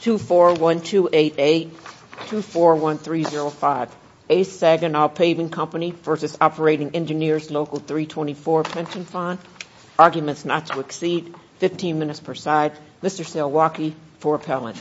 Pension Fund, Arguments Not to Exceed, 15 Minutes per Side, Mr. Salewalkie for appellant.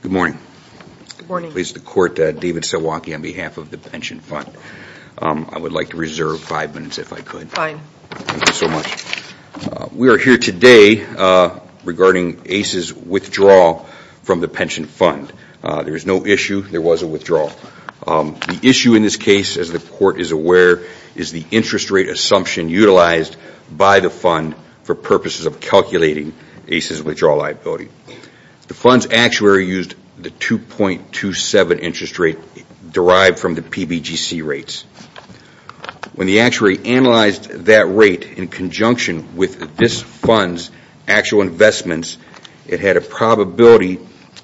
Good morning. Good morning. Please, the court, David Salewalkie on behalf of the pension fund. I would like to reserve five minutes if I could. Fine. Thank you so much. We are here today regarding ACE's withdrawal from the pension fund. There is no issue, there was a withdrawal. The issue in this case, as the court is aware, is the interest rate assumption utilized by the fund for purposes of calculating ACE's withdrawal liability. The fund's actuary used the 2.27 interest rate derived from the PBGC rates. When the actuary analyzed that rate in conjunction with this fund's actual investments, it had a probability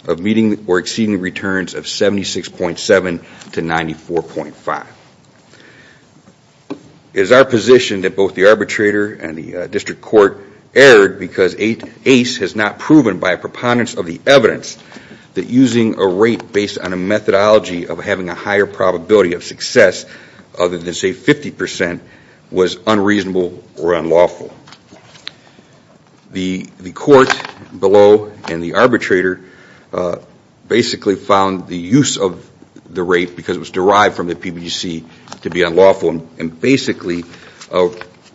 of meeting or exceeding returns of 76.7 to 94.5. It is our position that both the arbitrator and the district court erred because ACE has not proven by a preponderance of the evidence that using a rate based on a methodology of having a higher probability of success other than say 50 percent was unreasonable or unlawful. The court below and the arbitrator basically found the use of the rate because it was derived from the PBGC to be unlawful and basically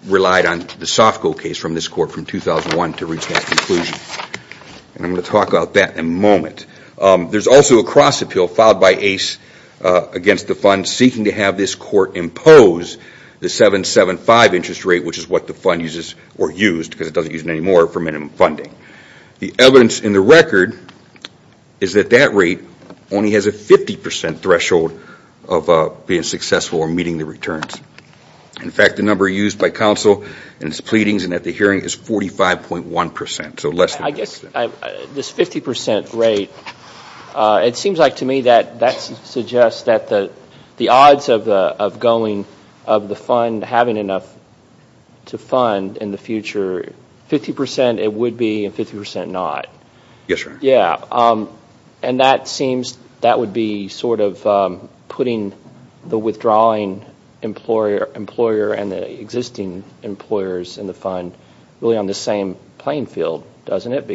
relied on the SOFCO case from this court from 2001 to reach that conclusion. I'm going to talk about that in a moment. There's also a cross appeal filed by ACE against the fund seeking to have this court impose the 7.75 interest rate which is what the fund uses or used because it doesn't use it anymore for minimum funding. The evidence in the record is that that rate only has a 50 percent threshold of being successful or meeting the returns. In fact, the number used by counsel in its pleadings and at the hearing is 45.1 percent, so less than 50 percent. This 50 percent rate, it seems like to me that suggests that the odds of the fund having enough to fund in the future, 50 percent it would be and 50 percent not. Yes, sir. That seems that would be sort of putting the withdrawing employer and the existing employers in the fund really on the same playing field, doesn't it?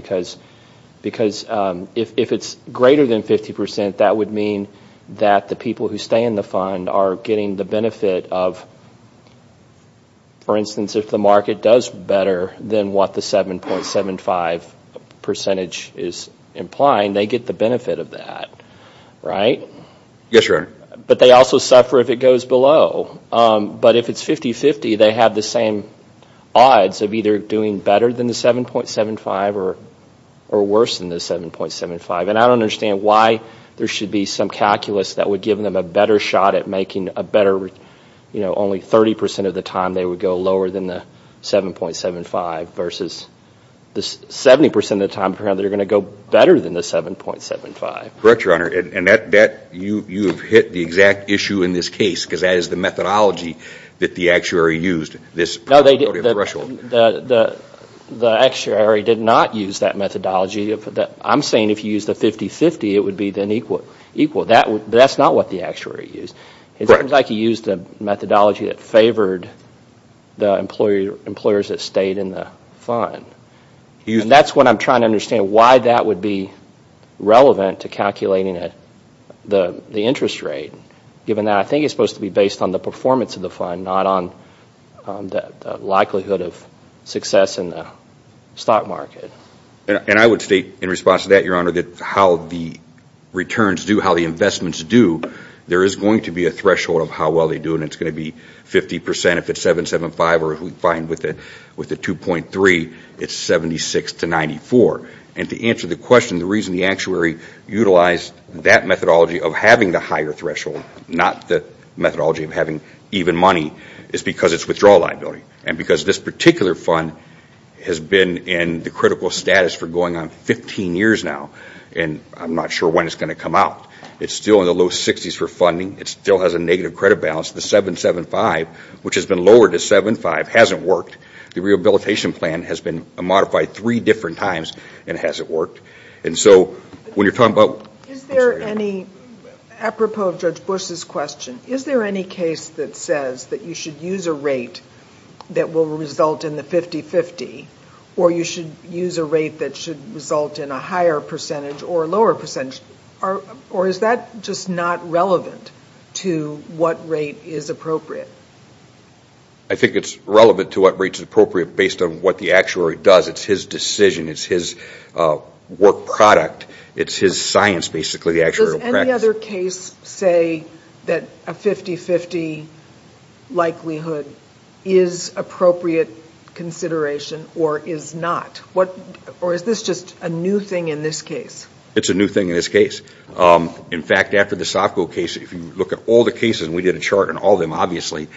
If it's greater than 50 percent, that would mean that the people who stay in the fund are getting the benefit of, for instance, if the market does better than what the 7.75 percentage is implying, they get the benefit of that, right? Yes, your honor. But they also suffer if it goes below. But if it's 50-50, they have the same odds of either doing better than the 7.75 or worse than the 7.75. And I don't understand why there should be some calculus that would give them a better shot at making a better, you know, only 30 percent of the time they would go lower than the 7.75 versus the 70 percent of the time they're going to go better than the 7.75. Correct, your honor. And that, you have hit the exact issue in this case because that is the methodology that the actuary used. No, they didn't. The actuary did not use that methodology. I'm saying if you use the 50-50, it would be then equal. But that's not what the actuary used. Correct. It seems like he used a methodology that favored the employers that stayed in the fund. And that's what I'm trying to understand why that would be relevant to calculating the interest rate given that I think it's supposed to be based on the performance of the fund, not on the likelihood of success in the stock market. And I would state in response to that, your honor, that how the returns do, how the investments do, there is going to be a threshold of how well they do. And it's going to be 50 percent if it's 7.75 or we find with the 2.3, it's 76 to 94. And to answer the question, the reason the actuary utilized that methodology of having the higher threshold, not the methodology of having even money, is because it's withdrawal liability. And because this particular fund has been in the critical status for going on 15 years now. And I'm not sure when it's going to come out. It's still in the low 60s for funding. It still has a negative credit balance. The 7.75, which has been lowered to 7.5, hasn't worked. The rehabilitation plan has been modified three different times and hasn't worked. And so when you're talking about... Is there any, apropos of Judge Bush's question, is there any case that says that you should use a rate that will result in the 50-50? Or you should use a rate that should result in a higher percentage or a lower percentage? Or is that just not relevant to what rate is appropriate? I think it's relevant to what rate is appropriate based on what the actuary does. It's his decision. It's his work product. It's his science, basically, the actuarial practice. Does any other case say that a 50-50 likelihood is appropriate consideration or is not? Or is this just a new thing in this case? It's a new thing in this case. In fact, after the Sofco case, if you look at all the cases, and we did a chart on all of them, obviously,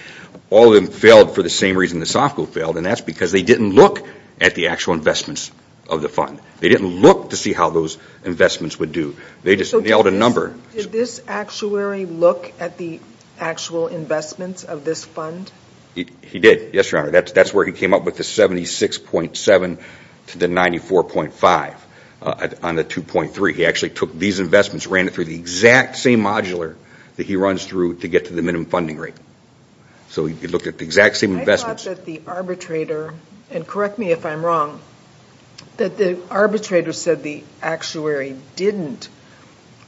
all of them failed for the same reason that Sofco failed. And that's because they didn't look at the actual investments of the fund. They didn't look to see how those investments would do. They just nailed a number. Did this actuary look at the actual investments of this fund? He did, yes, Your Honor. That's where he came up with the 76.7 to the 94.5 on the 2.3. He actually took these investments, ran it through the exact same modular that he runs through to get to the minimum funding rate. So he looked at the exact same investments. I thought that the arbitrator, and correct me if I'm wrong, that the arbitrator said the actuary didn't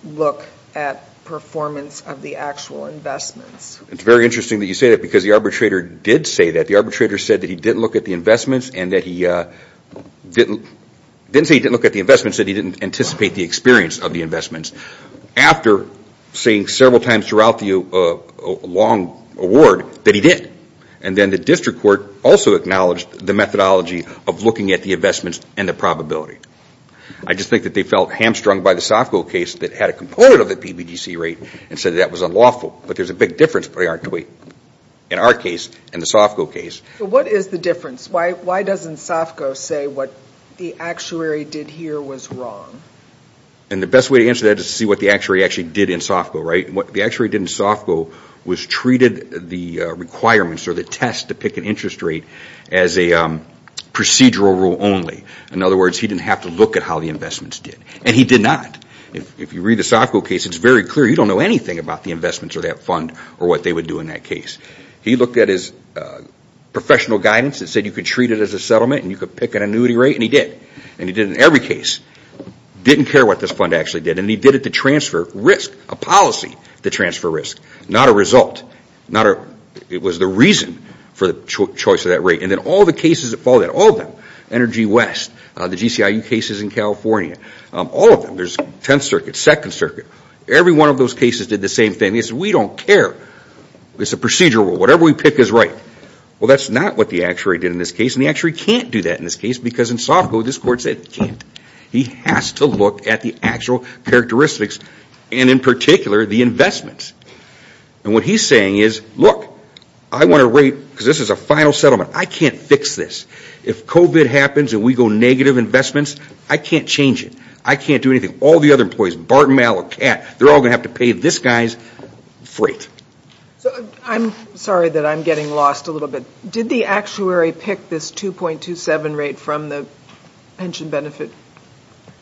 look at performance of the actual investments. It's very interesting that you say that because the arbitrator did say that. The arbitrator said that he didn't look at the investments and that he didn't anticipate the experience of the investments after saying several times throughout the long award that he did. And then the district court also acknowledged the methodology of looking at the investments and the probability. I just think that they felt hamstrung by the Sofco case that had a component of the PBDC rate and said that was unlawful. But there's a big difference between our case and the Sofco case. What is the difference? Why doesn't Sofco say what the actuary did here was wrong? And the best way to answer that is to see what the actuary actually did in Sofco, right? What the actuary did in Sofco was treated the requirements or the test to pick an interest rate as a procedural rule only. In other words, he didn't have to look at how the investments did. And he did not. If you read the Sofco case, it's very clear you don't know anything about the investments or that fund or what they would do in that case. He looked at his professional guidance that said you could treat it as a settlement and you could pick an annuity rate and he did. And he did in every case. He didn't care what this fund actually did and he did it to transfer risk, a policy to transfer risk, not a result. It was the reason for the choice of that rate. And then all the cases that followed that, all of them, Energy West, the GCIU cases in California, all of them, there's 10th Circuit, 2nd Circuit, every one of those cases did the same thing. He said we don't care. It's a procedural rule. Whatever we pick is right. Well, that's not what the actuary did in this case and the actuary can't do that in this case because in Sofco this court said he can't. He has to look at the actual characteristics and in particular the investments. And what he's saying is look, I want a rate because this is a final settlement. I can't fix this. If COVID happens and we go negative investments, I can't change it. I can't do anything. All the other employees, Barton, Mallet, Catt, they're all going to have to pay this guy's freight. I'm sorry that I'm getting lost a little bit. Did the actuary pick this 2.27 rate from the pension benefit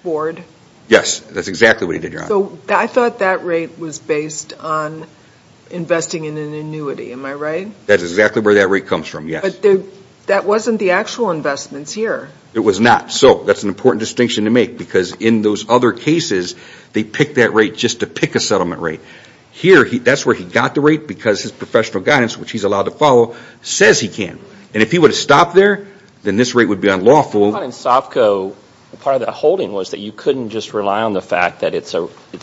board? Yes, that's exactly what he did, John. I thought that rate was based on investing in an annuity. Am I right? That's exactly where that rate comes from, yes. That wasn't the actual investments here. It was not. So that's an important distinction to make because in those other cases, they picked that rate just to pick a settlement rate. Here, that's where he got the rate because his professional guidance, which he's allowed to follow, says he can. And if he would have stopped there, then this rate would be unlawful. But in Sofco, part of the holding was that you couldn't just rely on the fact that it's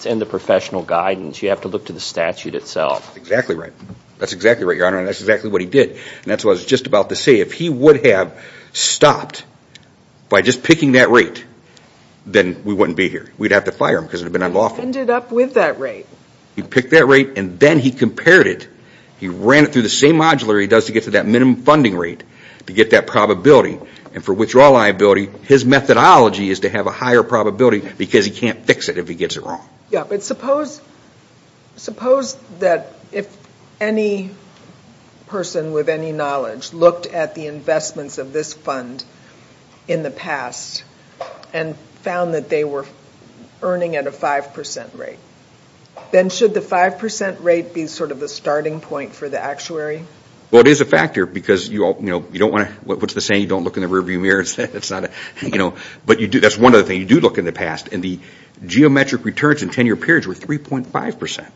in the professional guidance. You have to look to the statute itself. That's exactly right, Your Honor. That's exactly what he did. That's what I was just about to say. If he would have stopped by just picking that rate, then we wouldn't be here. We'd have to fire him because it would have been unlawful. He ended up with that rate. He picked that rate and then he compared it. He ran it through the same modular he does to get to that minimum funding rate to get that probability. And for withdrawal liability, his methodology is to have a higher probability because he can't fix it if he gets it wrong. But suppose that if any person with any knowledge looked at the investments of this fund in the past and found that they were earning at a 5% rate, then should the 5% rate be sort of the starting point for the actuary? Well, it is a factor because you don't want to... What's the saying? You don't look in the rear view mirror. That's one other thing. You do look in the past and the geometric returns in 10-year periods were 3.5%.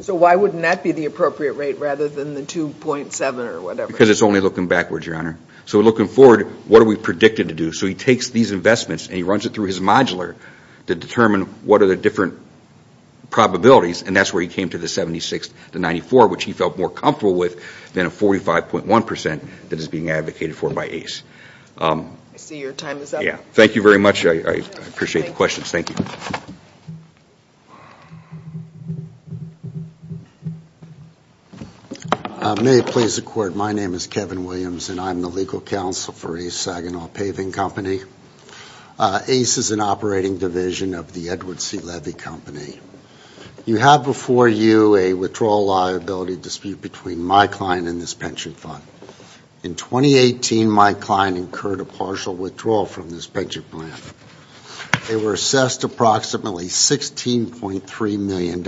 So why wouldn't that be the appropriate rate rather than the 2.7 or whatever? Because it's only looking backwards, Your Honor. So looking forward, what are we predicted to do? So he takes these investments and he runs it through his modular to determine what are the different probabilities and that's where he came to the 76 to 94, which he felt more comfortable with than a 45.1% that is being advocated for by ACE. I see your time is up. Thank you very much. I appreciate the questions. Thank you. May it please the Court, my name is Kevin Williams and I'm the legal counsel for ACE Saginaw Paving Company. ACE is an operating division of the Edward C. Levy Company. You have before you a withdrawal liability dispute between my client and this pension fund. In 2018, my client incurred a partial withdrawal from this pension plan. They were assessed approximately $16.3 million.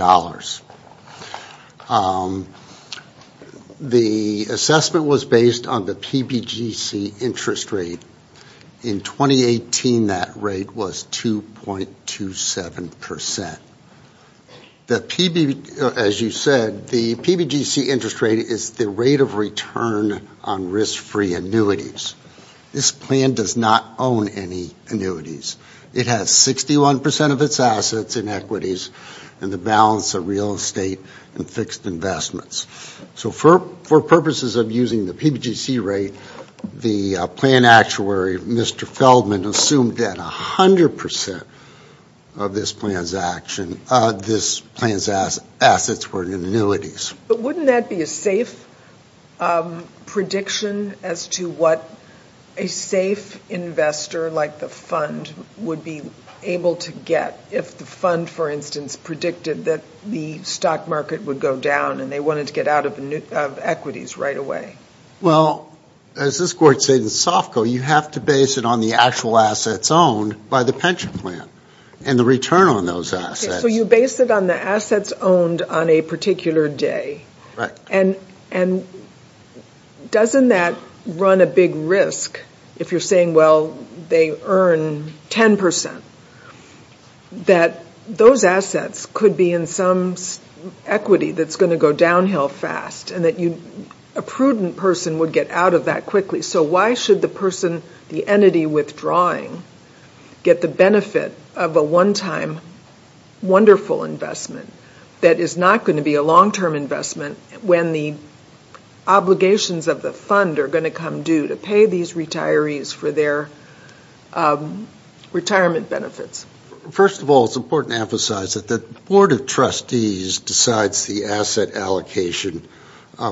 The assessment was based on the PBGC interest rate. In 2018, that rate was 2.27%. The PB, as you said, the PBGC interest rate is the rate of return on risk-free annuities. This plan does not own any annuities. It has 61% of its assets in equities and the balance of real estate and fixed investments. So for purposes of using the PBGC rate, the plan actuary, Mr. Feldman, assumed that 100% of this plan's action, this plan's assets were in annuities. But wouldn't that be a safe prediction as to what a safe investor like the fund would be able to get if the fund, for instance, predicted that the stock market would go down and they wanted to get out of equities right away? Well, as this Court said in SOFCO, you have to base it on the actual assets owned by the pension plan and the return on those assets. So you base it on the assets owned on a particular day. Right. And doesn't that run a big risk if you're saying, well, they earn 10%? That those assets could be in some equity that's going to go downhill fast and that a prudent person would get out of that quickly. So why should the person, the entity withdrawing, get the benefit of a one-time wonderful investment that is not going to be a long-term investment when the obligations of the fund are going to come due to pay these retirees for their retirement benefits? First of all, it's important to emphasize that the Board of Trustees decides the asset allocation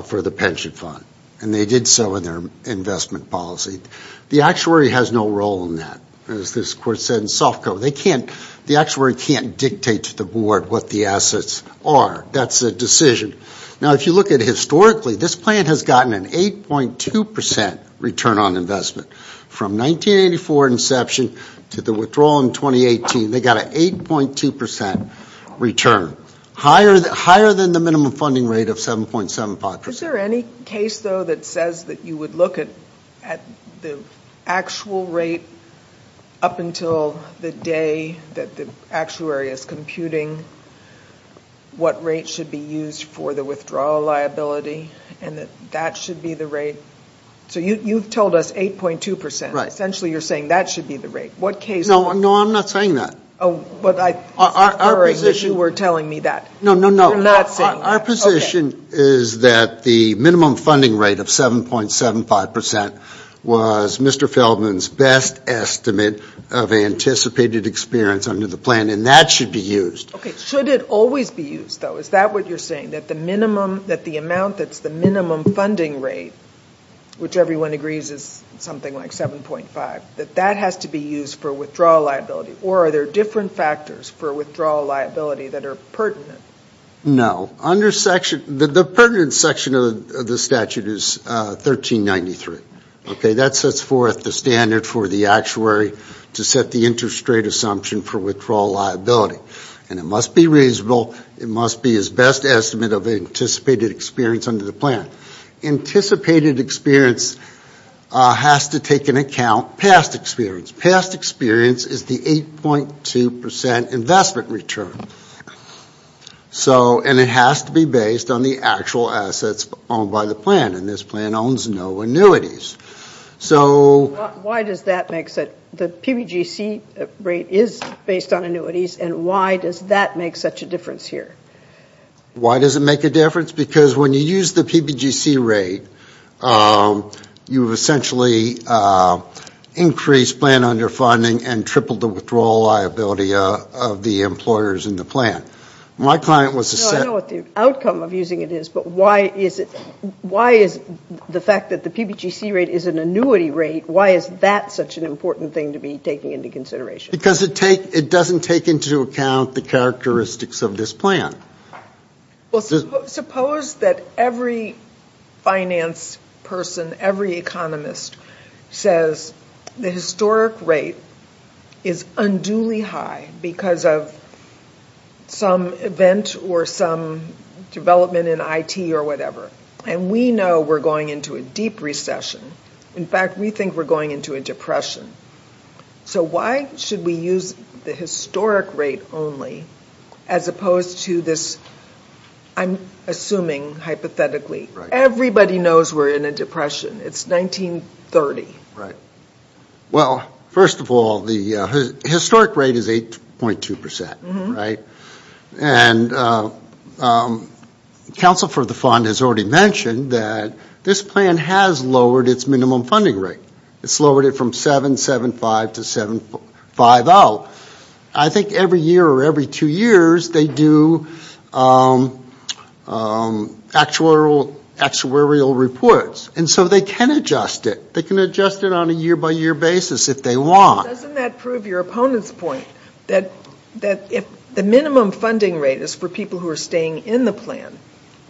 for the pension fund. And they did so in their investment policy. The actuary has no role in that, as this Court said in SOFCO. They can't, the actuary can't dictate to the Board what the assets are. That's a decision. Now if you look at historically, this plan has gotten an 8.2% return on investment. From 1984 inception to the withdrawal in 2018, they got an 8.2% return. Higher than the minimum funding rate of 7.75%. Is there any case, though, that says that you would look at the actual rate up until the day that the actuary is computing what rate should be used for the withdrawal liability and that that should be the rate? So you've told us 8.2%. Essentially you're saying that should be the rate. What case? No, I'm not saying that. But I was worried that you were telling me that. No, no, no. You're not saying that. Our position is that the minimum funding rate of 7.75% was Mr. Feldman's best estimate of anticipated experience under the plan and that should be used. Should it always be used, though? Is that what you're saying? That the minimum, that the amount that's the minimum funding rate, which everyone agrees is something like 7.5%, that that has to be used for withdrawal liability? Or are there different factors for withdrawal liability that are pertinent? No. Under section, the pertinent section of the statute is 1393. Okay, that sets forth the standard for the actuary to set the interest rate assumption for withdrawal liability. And it must be reasonable, it must be his best estimate of anticipated experience under the plan. Anticipated experience has to take into account past experience. Past experience is the 8.2% investment return. So, and it has to be based on the actual assets owned by the plan. And this plan owns no annuities. So... Why does that make sense? The PBGC rate is based on annuities and why does that make such a difference here? Why does it make a difference? Because when you use the PBGC rate, you essentially increase plan underfunding and triple the withdrawal liability of the employers in the plan. My client was... No, I know what the outcome of using it is, but why is it, why is the fact that the PBGC rate is an annuity rate, why is that such an important thing to be taking into consideration? Because it doesn't take into account the characteristics of this plan. Well, suppose that every finance person, every economist says the historic rate is unduly high because of some event or some development in IT or whatever. And we know we're going into a deep recession. In fact, we think we're going into a depression. So why should we use the historic rate only as opposed to this, I'm assuming, hypothetically, everybody knows we're in a depression. It's 1930. Right. Well, first of all, the historic rate is 8.2%, right? And counsel for the fund has already mentioned that this plan has lowered its minimum funding rate. It's lowered it from 7.75 to 7.50. I think every year or every two years, they do actuarial reports. And so they can adjust it. They can adjust it on a year-by-year basis if they want. Doesn't that prove your opponent's point that if the minimum funding rate is for people who are staying in the plan,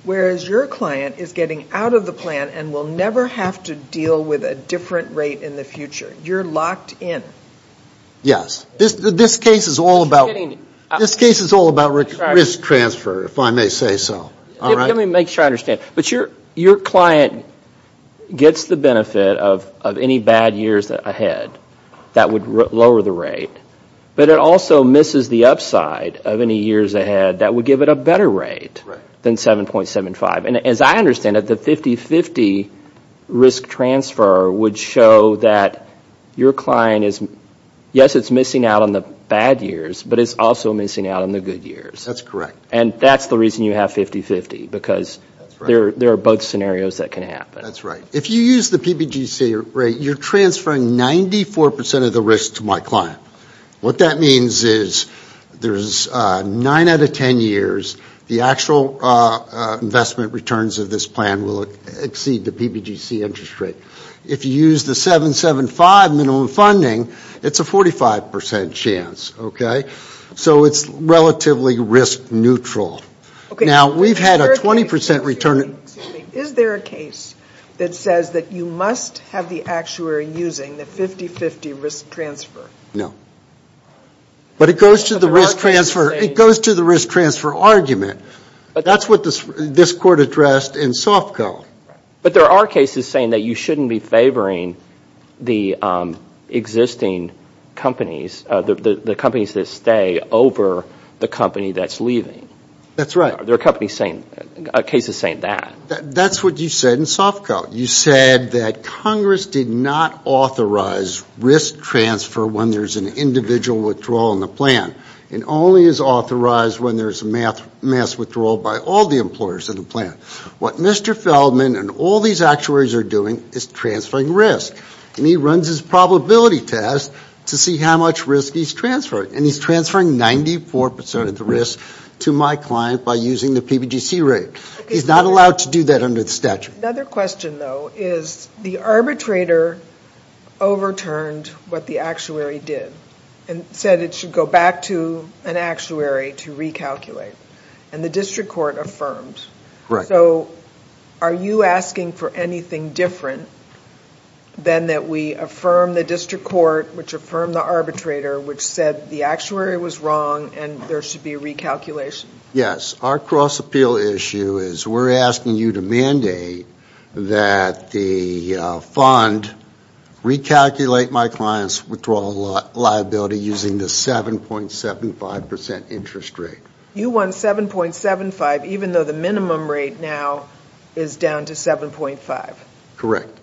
whereas your client is getting out of the plan and will never have to deal with a different rate in the future? You're locked in. Yes. This case is all about risk transfer, if I may say so. Let me make sure I understand. But your client gets the benefit of any bad years ahead that would lower the rate, but it also misses the upside of any years ahead that would give it a better rate than 7.75. And as I understand it, the 50-50 risk transfer would show that your client is, yes, it's missing out on the bad years, but it's also missing out on the good years. That's correct. And that's the reason you have 50-50, because there are both scenarios that can happen. That's right. If you use the PBGC rate, you're transferring 94% of the risk to my client. What that means is there's 9 out of 10 years, the actual investment returns of this plan will exceed the PBGC interest rate. If you use the 7.75 minimum funding, it's a 45% chance. So it's relatively risk neutral. Now we've had a 20% return. Is there a case that says that you must have the actuary using the 50-50 risk transfer? No. But it goes to the risk transfer argument. That's what this court addressed in SOFCO. But there are cases saying that you shouldn't be favoring the existing companies, the companies that stay over the company that's leaving. That's right. There are cases saying that. That's what you said in SOFCO. You said that Congress did not authorize risk transfer when there's an individual withdrawal in the plan. It only is authorized when there's mass withdrawal by all the employers in the plan. What Mr. Feldman and all these actuaries are doing is transferring risk. And he runs his probability test to see how much risk he's transferring. And he's transferring 94% of the risk to my client by using the PBGC rate. He's not allowed to do that under the statute. Another question though is the arbitrator overturned what the actuary did and said it should go back to an actuary to recalculate. And the district court affirmed. So are you asking for anything different than that we affirm the district court, which affirmed the arbitrator, which said the actuary was wrong and there should be recalculation? Yes. Our cross appeal issue is we're asking you to mandate that the fund recalculate my client's withdrawal liability using the 7.75% interest rate. You want 7.75 even though the minimum rate now is down to 7.5? Correct.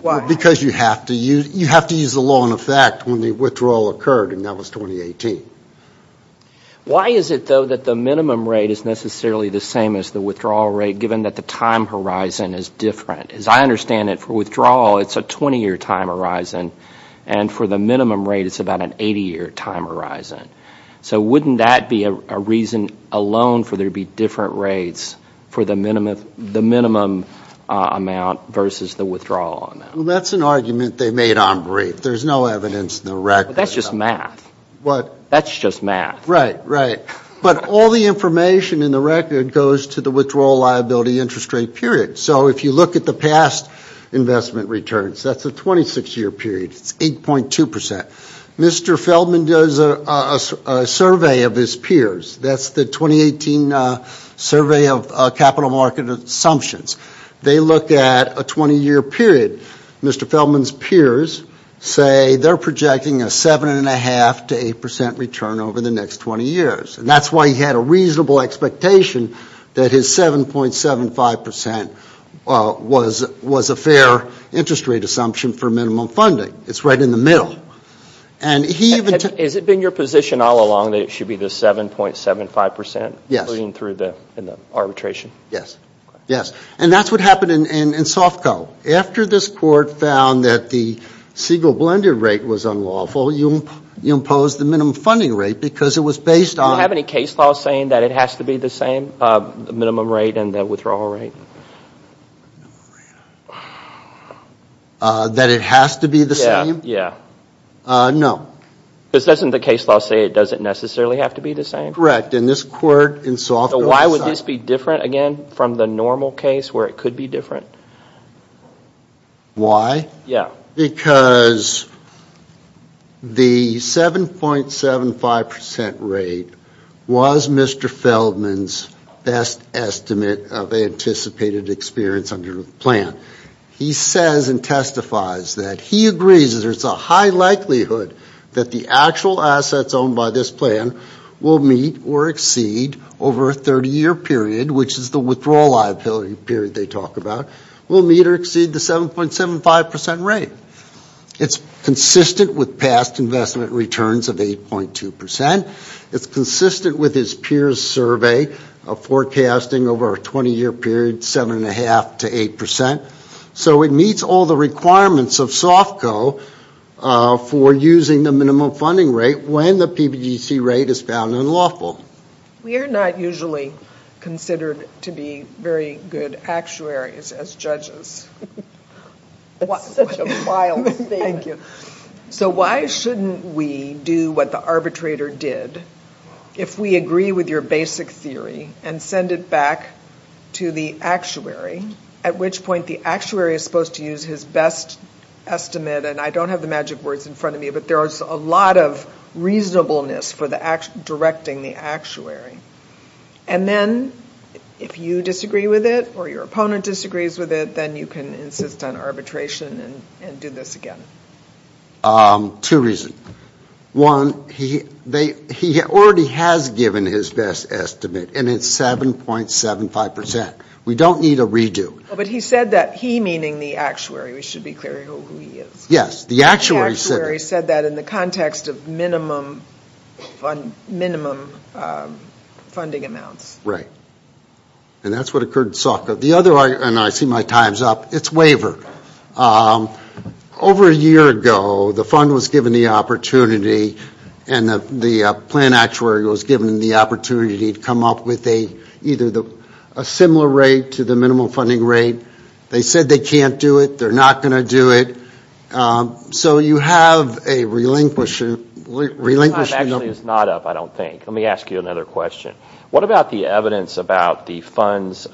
Why? Because you have to use the law in effect when the withdrawal occurred in 2018. Why is it though that the minimum rate is necessarily the same as the withdrawal rate given that the time horizon is different? As I understand it, for withdrawal it's a 20 year time horizon. And for the minimum rate it's about an 80 year time horizon. So wouldn't that be a reason alone for there to be different rates for the minimum amount versus the withdrawal amount? That's an argument they made on rate. There's no evidence in the record. That's just math. What? That's just math. Right, right. But all the information in the record goes to the withdrawal liability interest rate period. So if you look at the past investment returns, that's a 26 year period. It's 8.2%. Mr. Feldman does a survey of his peers. That's the 2018 survey of capital market assumptions. They look at a 20 year period. Mr. Feldman's peers say they're projecting a 7.5 to 8% return over the next 20 years. And that's why he had a reasonable expectation that his 7.75% was a fair interest rate assumption for minimum funding. It's right in the middle. And he even... Has it been your position all along that it should be the 7.75% including through the arbitration? Yes. Yes. And that's what happened in SOFCO. After this court found that the Siegel blended rate was unlawful, you imposed the minimum funding rate because it was based on... Do you have any case law saying that it has to be the same, the minimum rate and the withdrawal rate? That it has to be the same? Yeah. No. Because doesn't the case law say it doesn't necessarily have to be the same? Correct. And this court in SOFCO... So why would this be different, again, from the normal case where it could be different? Why? Yeah. Because the 7.75% rate was Mr. Feldman's best estimate of anticipated experience under the plan. He says and testifies that he agrees that there's a high likelihood that the actual 30-year period, which is the withdrawal liability period they talk about, will meet or exceed the 7.75% rate. It's consistent with past investment returns of 8.2%. It's consistent with his peers' survey of forecasting over a 20-year period, 7.5% to 8%. So it meets all the requirements of SOFCO for using the minimum funding rate when the PPGC rate is found unlawful. We are not usually considered to be very good actuaries as judges. That's such a wild statement. Thank you. So why shouldn't we do what the arbitrator did? If we agree with your basic theory and send it back to the actuary, at which point the actuary is supposed to use his best estimate, and I don't have the magic words in front of me, but there is a lot of reasonableness for directing the actuary. And then, if you disagree with it or your opponent disagrees with it, then you can insist on arbitration and do this again. Two reasons. One, he already has given his best estimate and it's 7.75%. We don't need a redo. But he said that he, meaning the actuary, we should be clear who he is. Yes, the actuary said it. But in the context of minimum funding amounts. Right. And that's what occurred in SOFCO. The other argument, and I see my time's up, is waiver. Over a year ago, the fund was given the opportunity and the plan actuary was given the opportunity to come up with either a similar rate to the minimum funding rate. They said they can't do it. They're not going to do it. So you have a relinquishing. Your time actually is not up, I don't think. Let me ask you another question. What about the evidence about the fund's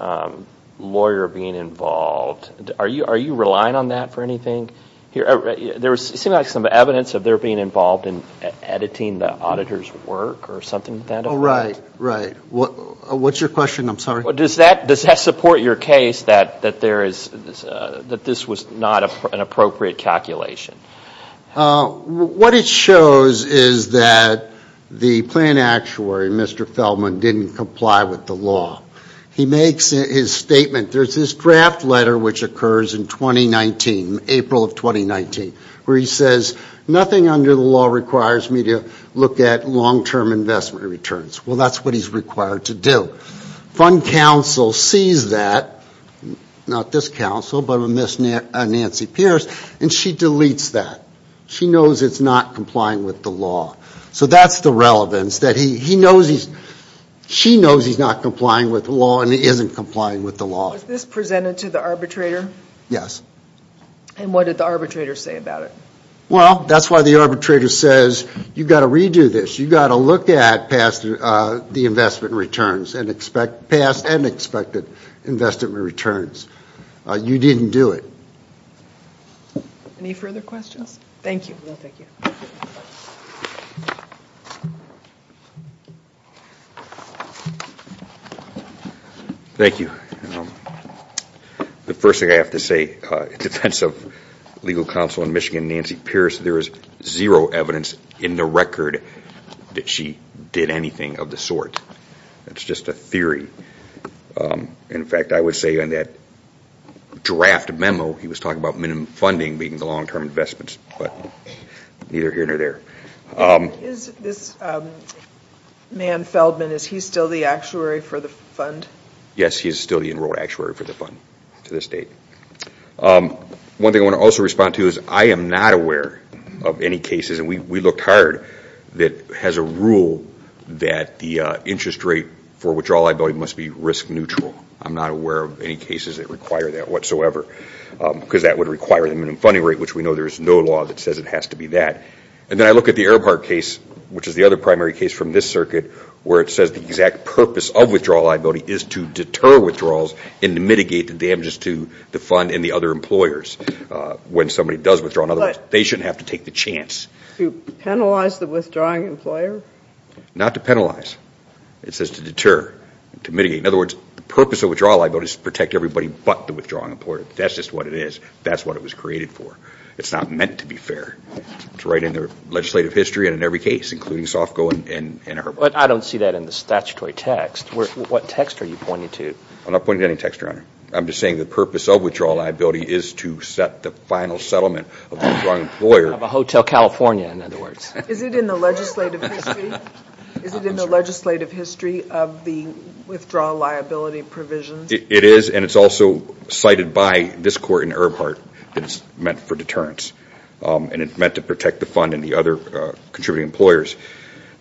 lawyer being involved? Are you relying on that for anything? There seemed like some evidence of their being involved in editing the auditor's work or something like that. Oh, right. Right. What's your question? I'm sorry. Does that support your case that this was not an appropriate calculation? What it shows is that the plan actuary, Mr. Feldman, didn't comply with the law. He makes his statement, there's this draft letter which occurs in 2019, April of 2019, where he says nothing under the law requires me to look at long-term investment returns. Well, that's what he's required to do. Fund counsel sees that, not this counsel, but Nancy Pierce, and she deletes that. She knows it's not complying with the law. So that's the relevance. She knows he's not complying with the law and he isn't complying with the law. Was this presented to the arbitrator? Yes. And what did the arbitrator say about it? Well, that's why the arbitrator says you've got to redo this. You've got to look at past the investment returns and expect past and expected investment returns. You didn't do it. Any further questions? Thank you. Thank you. The first thing I have to say, in defense of legal counsel in Michigan and Nancy Pierce, there is zero evidence in the record that she did anything of the sort. It's just a theory. In fact, I would say on that draft memo, he was talking about minimum funding being the long-term investments, but neither here nor there. Is this man Feldman, is he still the actuary for the fund? Yes, he is still the enrolled actuary for the fund to this date. One thing I want to also respond to is I am not aware of any cases, and we looked hard, that has a rule that the interest rate for withdrawal liability must be risk neutral. I'm not aware of any cases that require that whatsoever, because that would require the minimum funding rate, which we know there is no law that says it has to be that. And then I look at the Erbhardt case, which is the other primary case from this circuit, where it says the exact purpose of withdrawal liability is to deter withdrawals and to mitigate the damages to the fund and the other employers when somebody does withdraw, otherwise they shouldn't have to take the chance. To penalize the withdrawing employer? Not to penalize. It says to deter, to mitigate. In other words, the purpose of withdrawal liability is to protect everybody but the withdrawing employer. That's just what it is. That's what it was created for. It's not meant to be fair. It's right in the legislative history and in every case, including Sofco and Erbhardt. But I don't see that in the statutory text. What text are you pointing to? I'm not pointing to any text, Your Honor. I'm just saying the purpose of withdrawal liability is to set the final settlement of the withdrawing employer. Of a Hotel California, in other words. Is it in the legislative history? Is it in the legislative history of the withdrawal liability provisions? It is, and it's also cited by this Court in Erbhardt that it's meant for deterrence. And it's meant to protect the fund and the other contributing employers.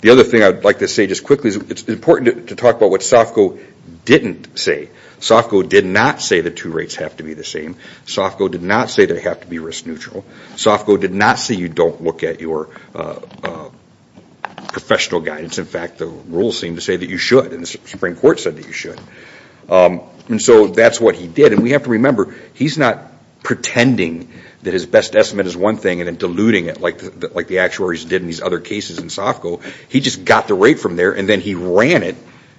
The other thing I would like to say just quickly is it's important to talk about what Sofco didn't say. Sofco did not say the two rates have to be the same. Sofco did not say they have to be risk neutral. Sofco did not say you don't look at your professional guidance. In fact, the rules seem to say that you should, and the Supreme Court said that you should. And so that's what he did. And we have to remember, he's not pretending that his best estimate is one thing and then diluting it like the actuaries did in these other cases in Sofco. He just got the rate from there and then he ran it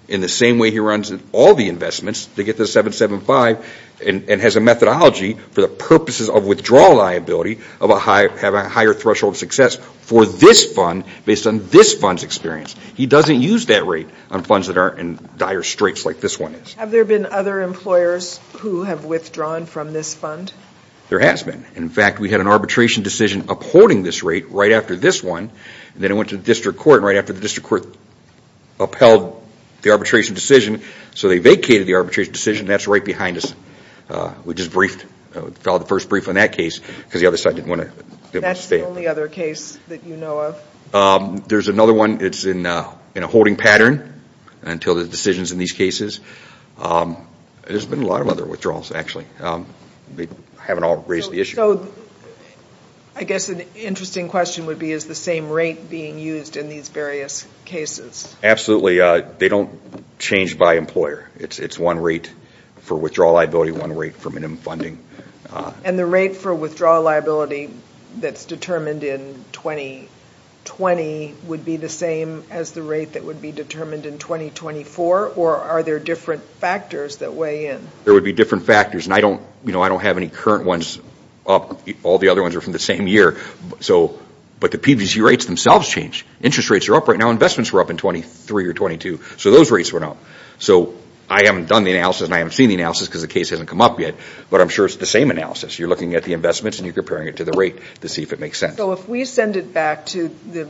in the same way he runs all the investments to get the 775 and has a methodology for the purposes of withdrawal liability of a higher threshold success for this fund based on this fund's experience. He doesn't use that rate on funds that are in dire straits like this one is. Have there been other employers who have withdrawn from this fund? There has been. In fact, we had an arbitration decision upholding this rate right after this one. Then it went to the district court and right after the district court upheld the arbitration decision, so they vacated the arbitration decision. That's right behind us. We just briefed, filed the first brief on that case because the other side didn't want to stay. That's the only other case that you know of? There's another one that's in a holding pattern until the decisions in these cases. There's been a lot of other withdrawals actually. They haven't all raised the issue. So I guess an interesting question would be is the same rate being used in these various cases? Absolutely. They don't change by employer. It's one rate for withdrawal liability, one rate for minimum funding. And the rate for withdrawal liability that's determined in 2020 would be the same as the rate that would be determined in 2024, or are there different factors that weigh in? There would be different factors. I don't have any current ones up. All the other ones are from the same year, but the PVC rates themselves change. Interest rates are up right now. Investments were up in 2023 or 2022, so those rates went up. So I haven't done the analysis and I haven't seen the analysis because the case hasn't come up yet, but I'm sure it's the same analysis. You're looking at the investments and you're comparing it to the rate to see if it makes sense. So if we send it back to the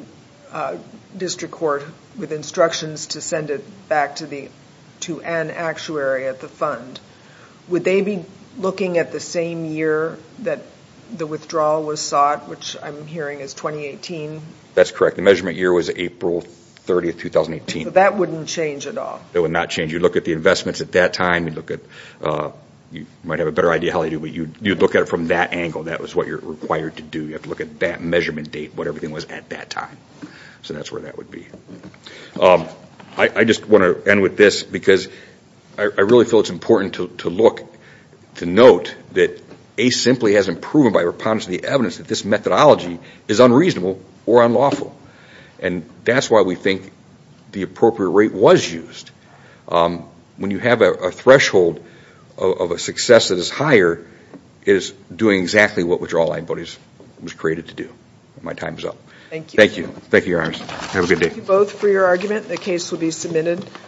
district court with instructions to send it back to an actuary at the fund, would they be looking at the same year that the withdrawal was sought, which I'm hearing is 2018? That's correct. The measurement year was April 30, 2018. That wouldn't change at all? It would not change. You'd look at the investments at that time. You might have a better idea how they do, but you'd look at it from that angle. That was what you're required to do. You have to look at that measurement date, what everything was at that time. So that's where that would be. I just want to end with this because I really feel it's important to note that ACE simply hasn't proven by reponding to the evidence that this methodology is unreasonable or unlawful. That's why we think the appropriate rate was used. When you have a threshold of a success that is higher, it is doing exactly what withdrawal antibodies was created to do. My time is up. Thank you. Thank you, Iris. Have a good day. Thank you both for your argument. The case will be submitted.